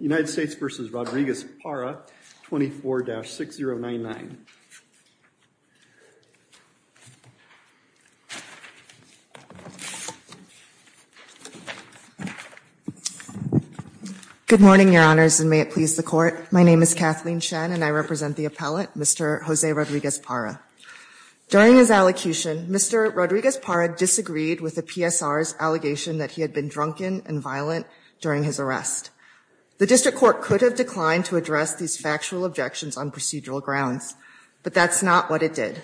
United States v. Rodriguez-Parra, 24-6099. Good morning, Your Honors, and may it please the Court. My name is Kathleen Shen, and I represent the appellate, Mr. Jose Rodriguez-Parra. During his allocution, Mr. Rodriguez-Parra disagreed with the PSR's allegation that he had been drunken and violent during his arrest. The District Court could have declined to address these factual objections on procedural grounds, but that's not what it did.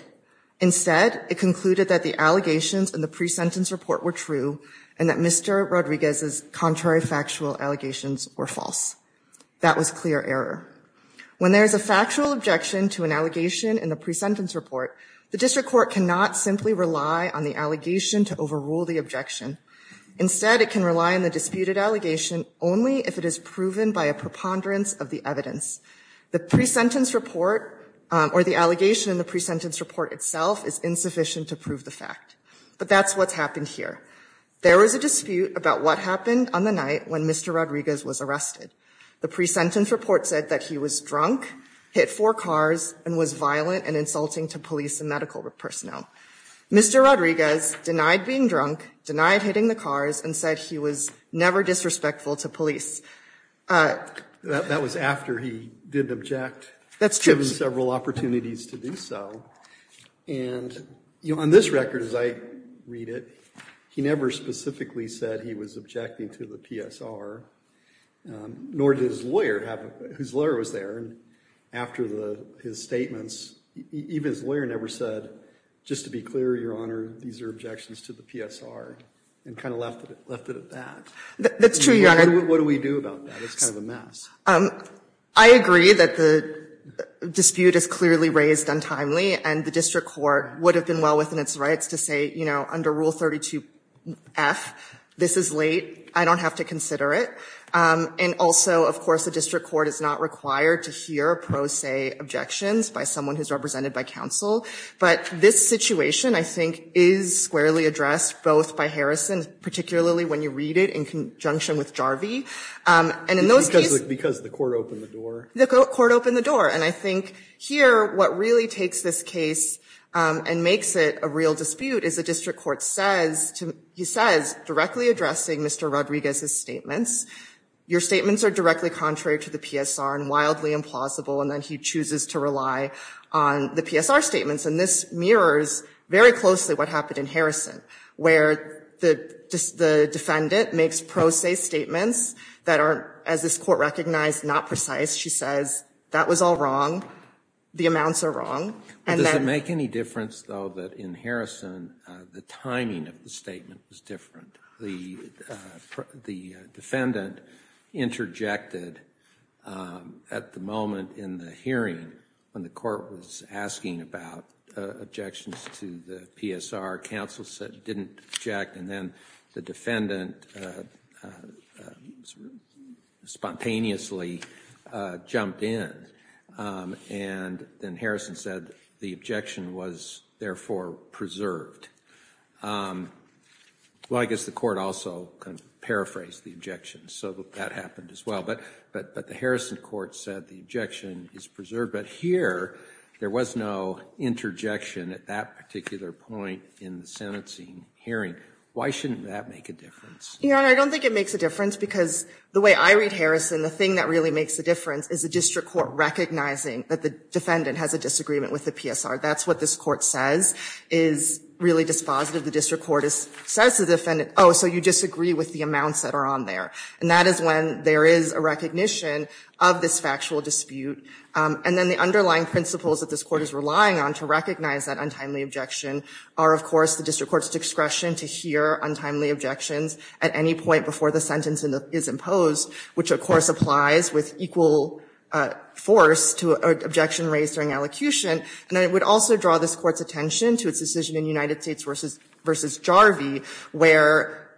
Instead, it concluded that the allegations in the pre-sentence report were true and that Mr. Rodriguez's contrary factual allegations were false. That was clear error. When there is a factual objection to an allegation in the pre-sentence report, the District Court cannot simply rely on the allegation to overrule the objection. Instead, it can rely on the disputed allegation only if it is proven by a preponderance of the evidence. The pre-sentence report, or the allegation in the pre-sentence report itself, is insufficient to prove the fact. But that's what's happened here. There was a dispute about what happened on the night when Mr. Rodriguez was arrested. The pre-sentence report said that he was drunk, hit four cars, and was violent and insulting to police and medical personnel. Mr. Rodriguez denied being drunk, denied hitting the cars, and said he was never disrespectful to police. That was after he didn't object, given several opportunities to do so. And on this record, as I read it, he never specifically said he was objecting to the PSR, nor did his lawyer, whose lawyer was there. After his statements, even his lawyer never said, just to be clear, Your Honor, these are objections to the PSR, and kind of left it at that. That's true, Your Honor. What do we do about that? It's kind of a mess. I agree that the dispute is clearly raised untimely. And the district court would have been well within its rights to say, you know, under Rule 32F, this is late. I don't have to consider it. And also, of course, the district court is not required to hear pro se objections by someone who's represented by counsel. But this situation, I think, is squarely addressed both by Harrison, particularly when you read it in conjunction with Jarvie. And in those cases, Because the court opened the door. The court opened the door. And I think here, what really takes this case and makes it a real dispute is the district court says, directly addressing Mr. Rodriguez's statements, your statements are directly contrary to the PSR and wildly implausible. And then he chooses to rely on the PSR statements. And this mirrors very closely what happened in Harrison, where the defendant makes pro se statements that are, as this court recognized, not precise. She says, that was all wrong. The amounts are wrong. Does it make any difference, though, that in Harrison, the timing of the statement was different? The defendant interjected at the moment in the hearing when the court was asking about objections to the PSR. Counsel said, didn't object. And then the defendant spontaneously jumped in. And then Harrison said, the objection was therefore preserved. Well, I guess the court also paraphrased the objection. So that happened as well. But the Harrison court said, the objection is preserved. But here, there was no interjection at that particular point in the sentencing hearing. Why shouldn't that make a difference? Your Honor, I don't think it makes a difference. Because the way I read Harrison, the thing that really makes a difference is the district court recognizing that the defendant has a disagreement with the PSR. That's what this court says is really dispositive. The district court says to the defendant, oh, so you disagree with the amounts that are on there. And that is when there is a recognition of this factual dispute. And then the underlying principles that this court is relying on to recognize that untimely objection are, of course, the district court's discretion to hear untimely objections at any point before the sentence is imposed, which, of course, applies with equal force to an objection raised during elocution. And it would also draw this court's attention to its decision in United States versus Jarvie, where,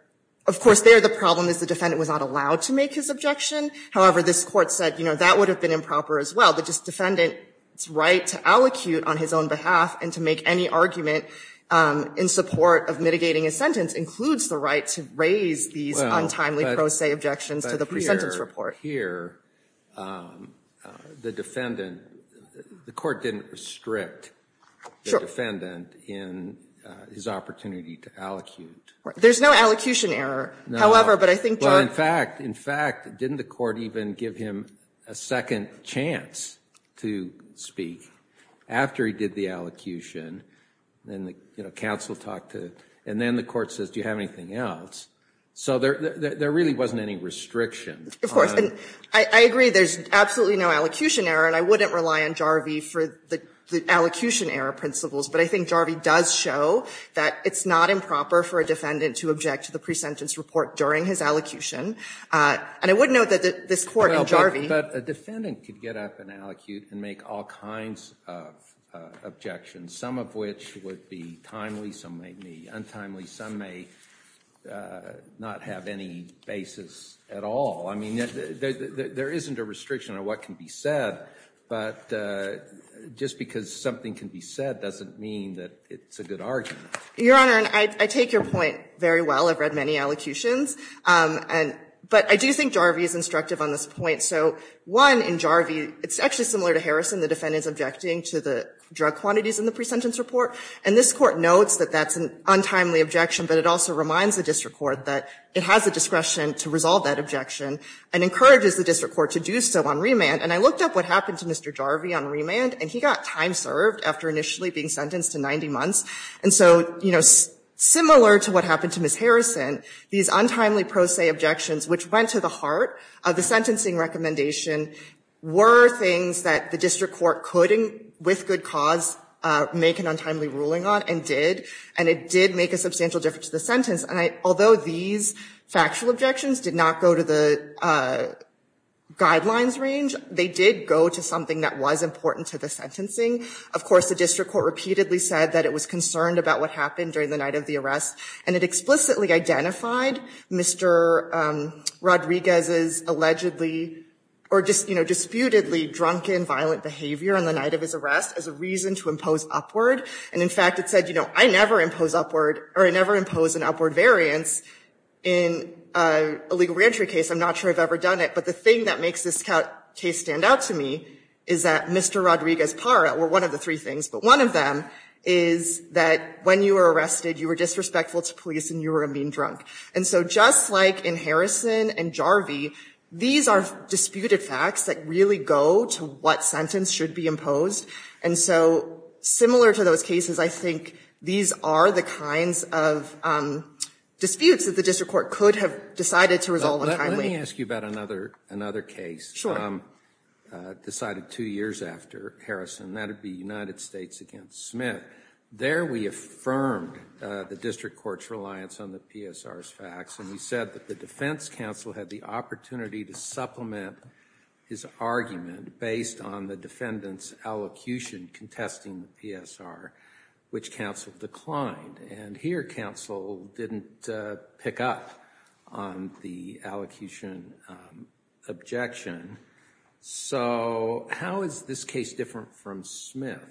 of course, there the problem is the defendant was not allowed to make his objection. However, this court said, that would have been improper as well. But this defendant's right to allocute on his own behalf and to make any argument in support of mitigating a sentence includes the right to raise these untimely pro se objections to the pre-sentence report. But here, the defendant, the court didn't restrict the defendant in his opportunity to allocute. There's no allocution error, however. But I think there are. In fact, didn't the court even give him a second chance to speak after he did the allocution? And the counsel talked to, and then the court says, do you have anything else? So there really wasn't any restriction. Of course, and I agree there's absolutely no allocution error. And I wouldn't rely on Jarvie for the allocution error principles. But I think Jarvie does show that it's not improper for a defendant to object to the pre-sentence report during his allocution. And I wouldn't know that this court in Jarvie. But a defendant could get up and allocute and make all kinds of objections, some of which would be timely, some may be untimely, some may not have any basis at all. I mean, there isn't a restriction on what can be said. But just because something can be said doesn't mean that it's a good argument. Your Honor, I take your point very well. I've read many allocutions. But I do think Jarvie is instructive on this point. So one, in Jarvie, it's actually similar to Harrison. The defendant is objecting to the drug quantities in the pre-sentence report. And this court notes that that's an untimely objection. But it also reminds the district court that it has the discretion to resolve that objection and encourages the district court to do so on remand. And I looked up what happened to Mr. Jarvie on remand. And he got time served after initially being sentenced to 90 months. And so similar to what happened to Ms. Harrison, these untimely pro se objections, which went to the heart of the sentencing recommendation, were things that the district court could, with good cause, make an untimely ruling on and did. And it did make a substantial difference to the sentence. Although these factual objections did not go to the guidelines range, they did go to something that was important to the sentencing. Of course, the district court repeatedly said that it was concerned about what happened during the night of the arrest. And it explicitly identified Mr. Rodriguez's allegedly, or just disputedly, drunken, violent behavior on the night of his arrest as a reason to impose upward. And in fact, it said, I never impose an upward variance in a legal reentry case. I'm not sure I've ever done it. But the thing that makes this case stand out to me is that Mr. Rodriguez's part, or one of the three things, but one of them, is that when you were arrested, you were disrespectful to police and you were being drunk. And so just like in Harrison and Jarvie, these are disputed facts that really go to what sentence should be imposed. And so similar to those cases, I think these are the kinds of disputes that the district court could have decided to resolve on time. Let me ask you about another case decided two years after Harrison. That would be United States against Smith. There we affirmed the district court's reliance on the PSR's facts. And we said that the defense counsel had the opportunity to supplement his argument based on the defendant's allocution contesting the PSR, which counsel declined. And here, counsel didn't pick up on the allocution objection. So how is this case different from Smith?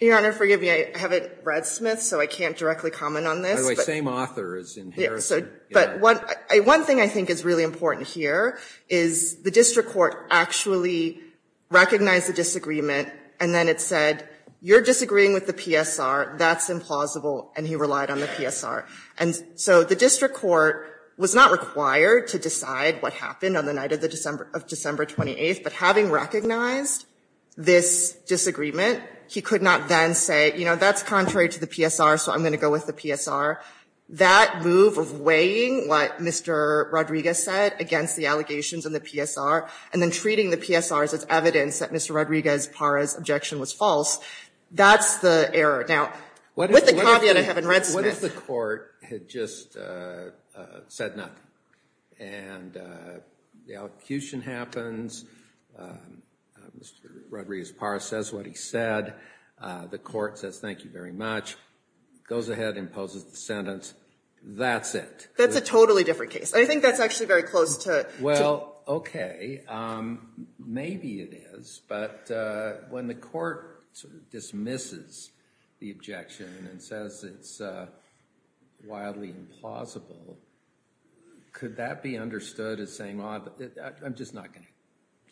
Your Honor, forgive me. I haven't read Smith, so I can't directly comment on this. By the way, same author as in Harrison. But one thing I think is really important here is the district court actually recognized the disagreement. And then it said, you're disagreeing with the PSR. That's implausible. And he relied on the PSR. And so the district court was not required to decide what happened on the night of December 28. But having recognized this disagreement, he could not then say, that's contrary to the PSR, so I'm going to go with the PSR. That move of weighing what Mr. Rodriguez said against the allegations in the PSR and then treating the PSRs as evidence that Mr. Rodriguez Parra's objection was false, that's the error. With the caveat I haven't read Smith. What if the court had just said nothing? And the allocution happens. Mr. Rodriguez Parra says what he said. The court says, thank you very much. Goes ahead, imposes the sentence. That's it. That's a totally different case. I think that's actually very close to. Well, OK. Maybe it is. But when the court dismisses the objection and says it's wildly implausible, could that be understood as saying, I'm just not going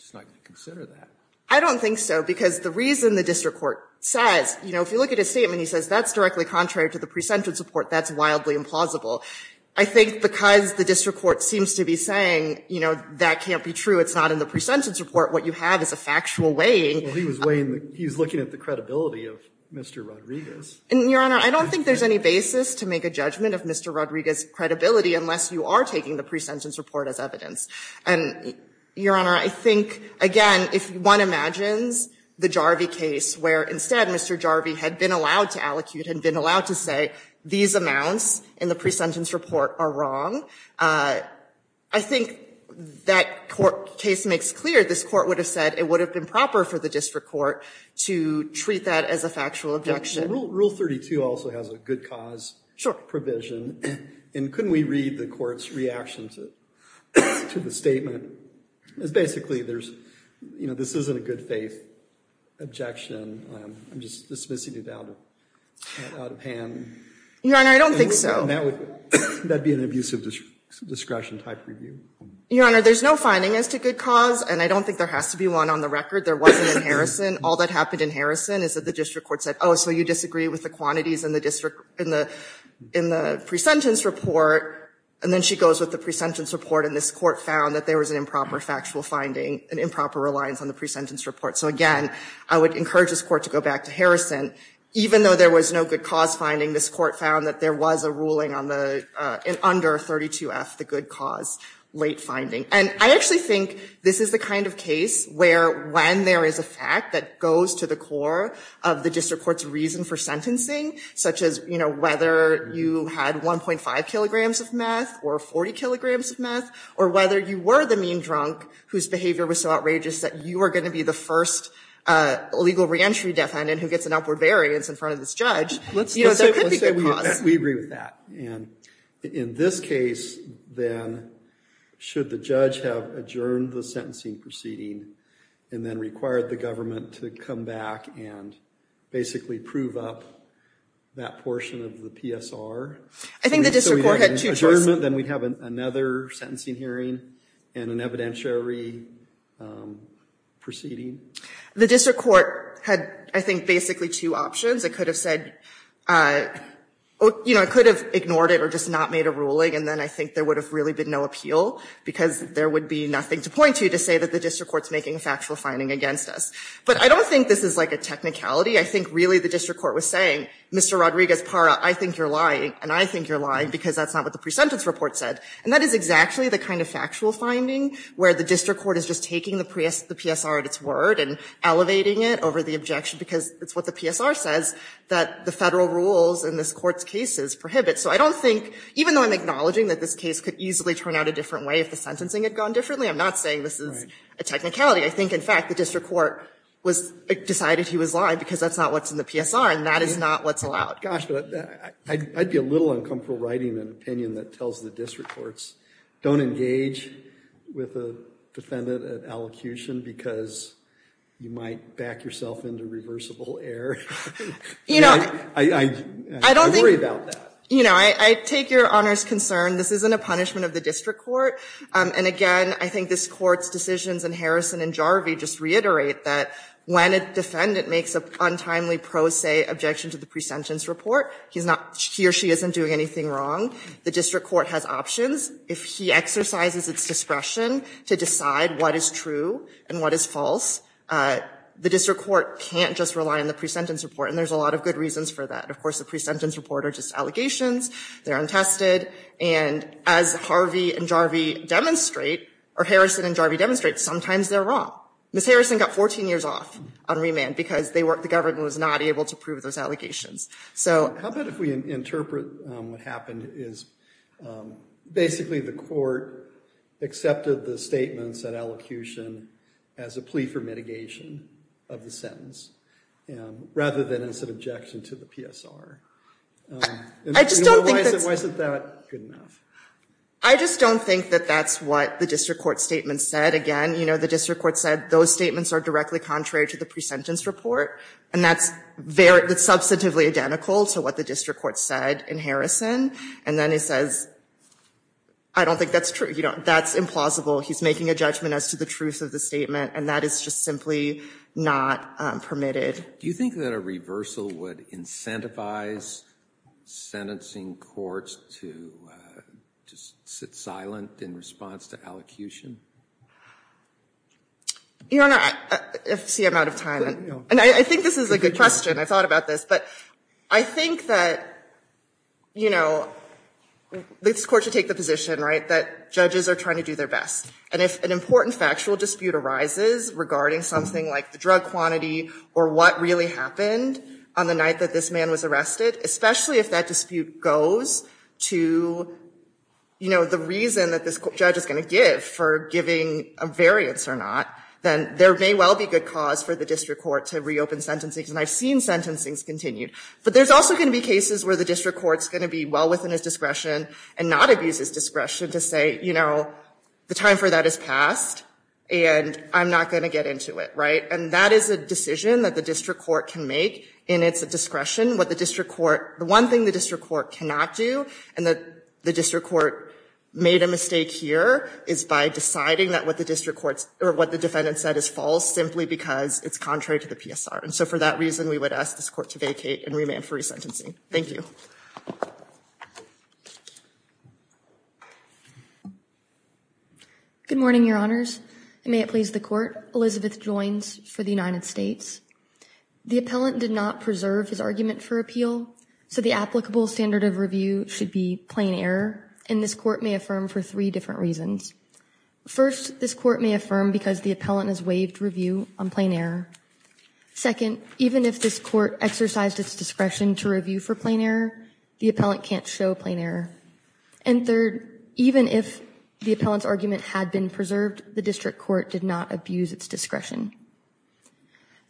to consider that? I don't think so. Because the reason the district court says, if you look at his statement, he says that's directly contrary to the pre-sentence report. That's wildly implausible. I think because the district court seems to be saying, that can't be true. It's not in the pre-sentence report. What you have is a factual weighing. Well, he was looking at the credibility of Mr. Rodriguez. And, Your Honor, I don't think there's any basis to make a judgment of Mr. Rodriguez's credibility unless you are taking the pre-sentence report as evidence. And, Your Honor, I think, again, if one imagines the Jarvey case where, instead, Mr. Jarvey had been allowed to allocute and been allowed to say, these amounts in the pre-sentence report are wrong, I think that court case makes clear this court would have said it would have been proper for the district court to treat that as a factual objection. Rule 32 also has a good cause provision. And couldn't we read the court's reaction to the statement? Basically, this isn't a good faith objection. I'm just dismissing it out of hand. Your Honor, I don't think so. That'd be an abusive discretion type review. Your Honor, there's no finding as to good cause. And I don't think there has to be one on the record. There wasn't in Harrison. All that happened in Harrison is that the district court said, oh, so you disagree with the quantities in the pre-sentence report. And then she goes with the pre-sentence report. And this court found that there was an improper factual finding, an improper reliance on the pre-sentence report. So again, I would encourage this court to go back to Harrison. Even though there was no good cause finding, this court found that there was a ruling under 32F, the good cause late finding. And I actually think this is the kind of case where when there is a fact that goes to the core of the district court's reason for sentencing, such as whether you had 1.5 kilograms of meth or 40 kilograms of meth, or whether you were the mean drunk whose behavior was so outrageous that you are going to be the first legal reentry defendant who gets an upward variance in front of this judge, there could be good cause. We agree with that. And in this case, then, should the judge have adjourned the sentencing proceeding and then required the government to come back and basically prove up that portion of the PSR? I think the district court had two choices. So we have an adjournment, then we'd have another sentencing hearing and an evidentiary proceeding. The district court had, I think, basically two options. It could have said, it could have ignored it or just not made a ruling. And then I think there would have really been no appeal, because there would be nothing to point to to say that the district court's making a factual finding against us. But I don't think this is like a technicality. I think, really, the district court was saying, Mr. Rodriguez-Para, I think you're lying. And I think you're lying, because that's not what the pre-sentence report said. And that is exactly the kind of factual finding where the district court is just taking the PSR at its word and elevating it over the objection, because it's what the PSR says that the federal rules in this court's cases prohibit. So I don't think, even though I'm acknowledging that this case could easily turn out a different way if the sentencing had gone differently, I'm not saying this is a technicality. I think, in fact, the district court was decided he was lying, because that's not what's in the PSR, and that is not what's allowed. Gosh, I'd be a little uncomfortable writing an opinion that tells the district courts, don't engage with a defendant at allocution, because you might back yourself into reversible error. You know, I don't worry about that. You know, I take your Honor's concern. This isn't a punishment of the district court. And again, I think this court's decisions and Harrison and Jarvie just reiterate that when a defendant makes an untimely pro se objection to the pre-sentence report, he or she isn't doing anything wrong. The district court has options. If he exercises its discretion to decide what is true, and what is false, the district court can't just rely on the pre-sentence report, and there's a lot of good reasons for that. Of course, the pre-sentence report are just allegations. They're untested, and as Harvey and Jarvie demonstrate, or Harrison and Jarvie demonstrate, sometimes they're wrong. Ms. Harrison got 14 years off on remand, because the government was not able to prove those allegations. So. How about if we interpret what happened, is basically the court accepted the statements that elocution as a plea for mitigation of the sentence, rather than as an objection to the PSR. I just don't think that's. Why isn't that good enough? I just don't think that that's what the district court statement said. Again, the district court said those statements are directly contrary to the pre-sentence report, and that's substantively identical to what the district court said in Harrison. And then it says, I don't think that's true. That's implausible. He's making a judgment as to the truth of the statement, and that is just simply not permitted. Do you think that a reversal would incentivize sentencing courts to just sit silent in response to elocution? Your Honor, I see I'm out of time. And I think this is a good question. I thought about this. But I think that, you know, this court should take the position, right, that judges are trying to do their best. And if an important factual dispute arises regarding something like the drug quantity, or what really happened on the night that this man was arrested, especially if that dispute goes to, you know, the reason that this judge is gonna give for giving a variance or not, then there may well be good cause for the district court to reopen sentencing. And I've seen sentencing's continued. But there's also gonna be cases where the district court's gonna be well within his discretion, and not abuse his discretion to say, you know, the time for that has passed, and I'm not gonna get into it, right? And that is a decision that the district court can make, and it's a discretion. What the district court, the one thing the district court cannot do, and that the district court made a mistake here, is by deciding that what the district court's, or what the defendant said is false, simply because it's contrary to the PSR. And so for that reason, we would ask this court to vacate and remand for resentencing. Thank you. Good morning, your honors. And may it please the court, Elizabeth Joins for the United States. The appellant did not preserve his argument for appeal, so the applicable standard of review should be plain error, and this court may affirm for three different reasons. First, this court may affirm because the appellant has waived review on plain error. Second, even if this court exercised its discretion to review for plain error, the appellant can't show plain error. And third, even if the appellant's argument had been preserved, the district court did not abuse its discretion.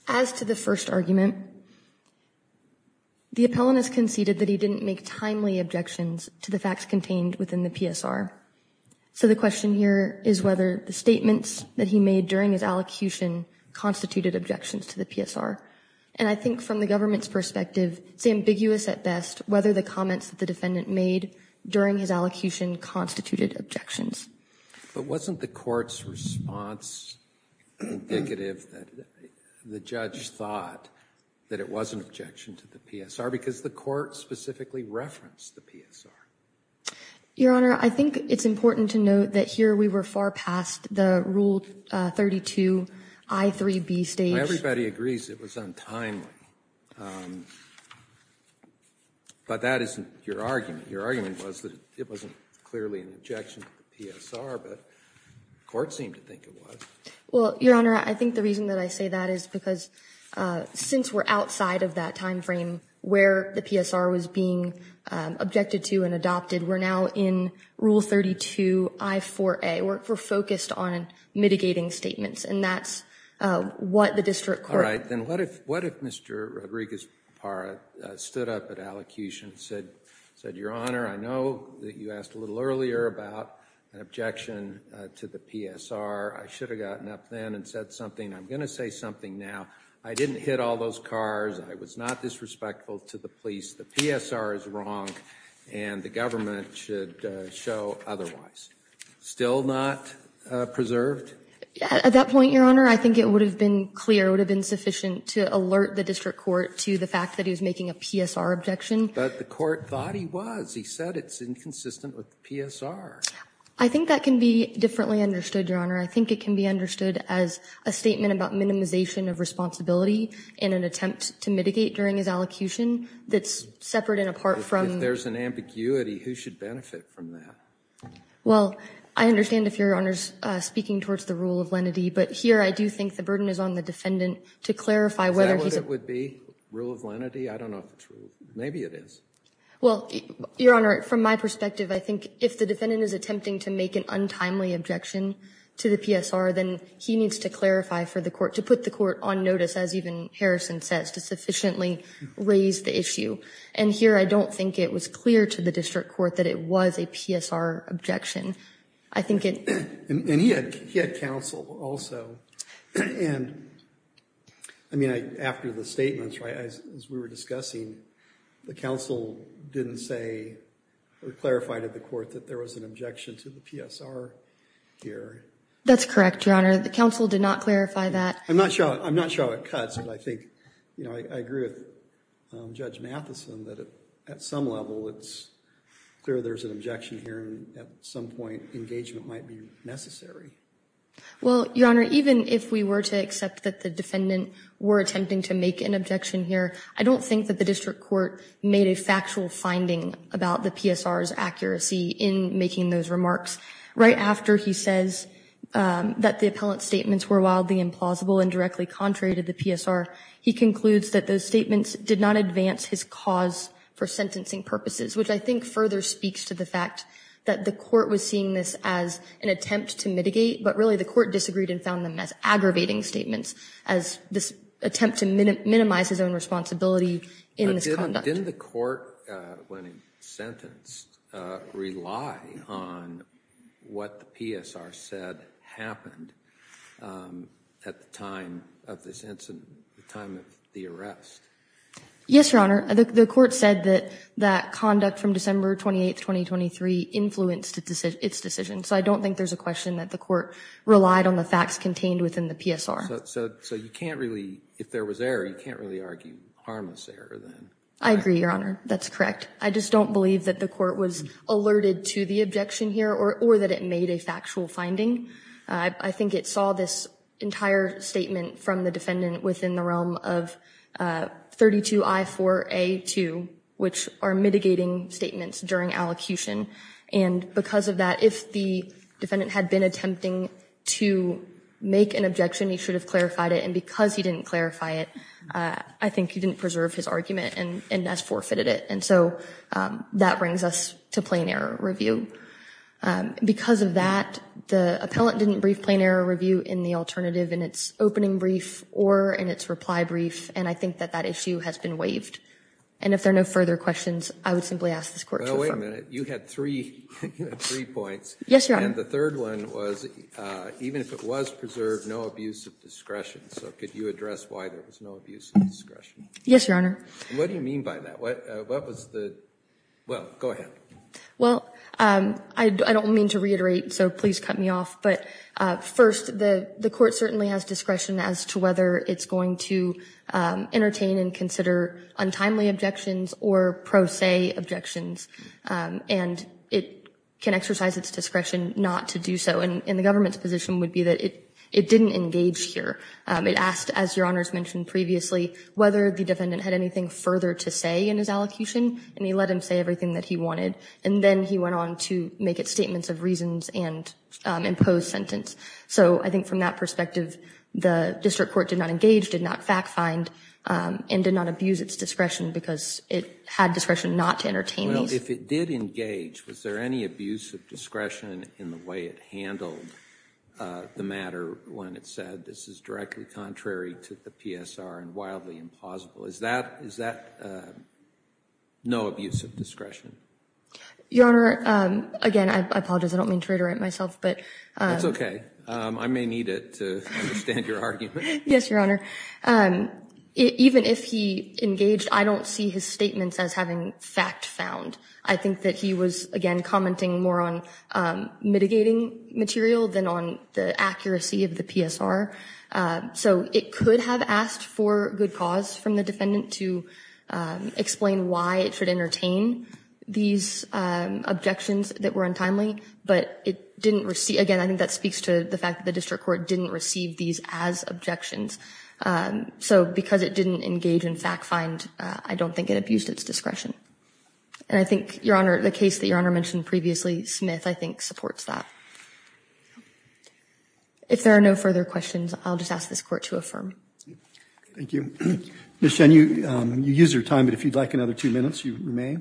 As to the first argument, the appellant has conceded that he didn't make timely objections to the facts contained within the PSR. So the question here is whether the statements that he made during his allocution constituted objections to the PSR. And I think from the government's perspective, it's ambiguous at best whether the comments that the defendant made during his allocution constituted objections. But wasn't the court's response indicative that the judge thought that it was an objection to the PSR because the court specifically referenced the PSR? Your Honor, I think it's important to note that here we were far past the Rule 32, I3B stage. Everybody agrees it was untimely. But that isn't your argument. Your argument was that it wasn't clearly an objection to the PSR, but the court seemed to think it was. Well, Your Honor, I think the reason that I say that is because since we're outside of that timeframe where the PSR was being objected to and adopted, we're now in Rule 32, I4A. We're focused on mitigating statements, and that's what the district court. All right, then what if Mr. Rodriguez-Para stood up at allocution, said, said, Your Honor, I know that you asked a little earlier about an objection to the PSR. I should have gotten up then and said something. I'm gonna say something now. I didn't hit all those cars. I was not disrespectful to the police. The PSR is wrong, and the government should show otherwise. Still not preserved? Yeah, at that point, Your Honor, I think it would have been clear, it would have been sufficient to alert the district court to the fact that he was making a PSR objection. But the court thought he was. He said it's inconsistent with the PSR. I think that can be differently understood, Your Honor. I think it can be understood as a statement about minimization of responsibility in an attempt to mitigate during his allocution that's separate and apart from. If there's an ambiguity, who should benefit from that? Well, I understand if Your Honor's speaking towards the rule of lenity, but here I do think the burden is on the defendant to clarify whether he's. Would that be rule of lenity? I don't know if it's rule, maybe it is. Well, Your Honor, from my perspective, I think if the defendant is attempting to make an untimely objection to the PSR, then he needs to clarify for the court, to put the court on notice, as even Harrison says, to sufficiently raise the issue. And here, I don't think it was clear to the district court that it was a PSR objection. I think it. And he had counsel also. And, I mean, after the statements, as we were discussing, the counsel didn't say or clarify to the court that there was an objection to the PSR here. That's correct, Your Honor. The counsel did not clarify that. I'm not sure how it cuts, but I think, you know, I agree with Judge Matheson that at some level, it's clear there's an objection here and at some point, engagement might be necessary. Well, Your Honor, even if we were to accept that the defendant were attempting to make an objection here, I don't think that the district court made a factual finding about the PSR's accuracy in making those remarks. Right after he says that the appellant's statements were wildly implausible and directly contrary to the PSR, he concludes that those statements did not advance his cause for sentencing purposes, which I think further speaks to the fact that the court was seeing this as an attempt to mitigate, but really, the court disagreed and found them as aggravating statements as this attempt to minimize his own responsibility in this conduct. Didn't the court, when he sentenced, rely on what the PSR said happened at the time of this incident, the time of the arrest? Yes, Your Honor. The court said that conduct from December 28th, 2023 influenced its decision, so I don't think that there's a question that the court relied on the facts contained within the PSR. So you can't really, if there was error, you can't really argue harmless error, then? I agree, Your Honor, that's correct. I just don't believe that the court was alerted to the objection here or that it made a factual finding. I think it saw this entire statement from the defendant within the realm of 32I4A2, which are mitigating statements during allocution, and because of that, if the defendant had been attempting to make an objection, he should have clarified it, and because he didn't clarify it, I think he didn't preserve his argument and thus forfeited it. And so that brings us to plain error review. Because of that, the appellant didn't brief plain error review in the alternative in its opening brief or in its reply brief, and I think that that issue has been waived. And if there are no further questions, I would simply ask this court to refer. No, wait a minute, you had three points. Yes, Your Honor. And the third one was, even if it was preserved, no abuse of discretion. So could you address why there was no abuse of discretion? Yes, Your Honor. What do you mean by that? What was the, well, go ahead. Well, I don't mean to reiterate, so please cut me off, but first, the court certainly has discretion as to whether it's going to entertain and consider untimely objections or pro se objections. And it can exercise its discretion not to do so. And the government's position would be that it didn't engage here. It asked, as Your Honors mentioned previously, whether the defendant had anything further to say in his allocution, and he let him say everything that he wanted. And then he went on to make statements of reasons and impose sentence. So I think from that perspective, the district court did not engage, did not fact find, and did not abuse its discretion because it had discretion not to entertain these. Well, if it did engage, was there any abuse of discretion in the way it handled the matter when it said, this is directly contrary to the PSR and wildly impossible? Is that no abuse of discretion? Your Honor, again, I apologize. I don't mean to reiterate myself, but. That's okay. I may need it to understand your argument. Yes, Your Honor. Even if he engaged, I don't see his statements as having fact found. I think that he was, again, commenting more on mitigating material than on the accuracy of the PSR. So it could have asked for good cause from the defendant to explain why it should entertain these objections that were untimely, but it didn't receive, again, I think that speaks to the fact that the district court didn't receive these as objections. So because it didn't engage in fact find, I don't think it abused its discretion. And I think, Your Honor, the case that Your Honor mentioned previously, Smith, I think supports that. If there are no further questions, I'll just ask this court to affirm. Thank you. Ms. Chen, you used your time, but if you'd like another two minutes, you may.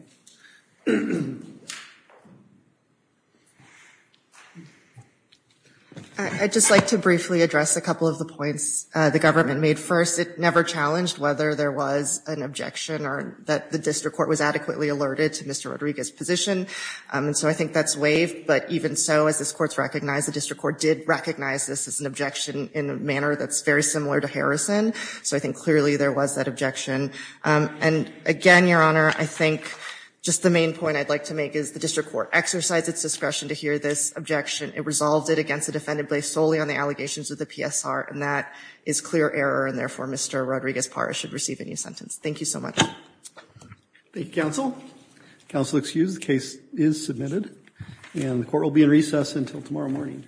I'd just like to briefly address a couple of the points the government made first. It never challenged whether there was an objection or that the district court was adequately alerted to Mr. Rodriguez's position. And so I think that's waived, but even so, as this court's recognized, the district court did recognize this as an objection in a manner that's very similar to Harrison. So I think clearly there was that objection. And again, Your Honor, I think just the main point I'd like to make is the district court exercised its discretion to hear this objection. It resolved it against the defendant based solely on the allegations of the PSR and that is clear error, and therefore Mr. Rodriguez-Paris should receive a new sentence. Thank you so much. Thank you, counsel. Counsel, excused. The case is submitted. And the court will be in recess until tomorrow morning.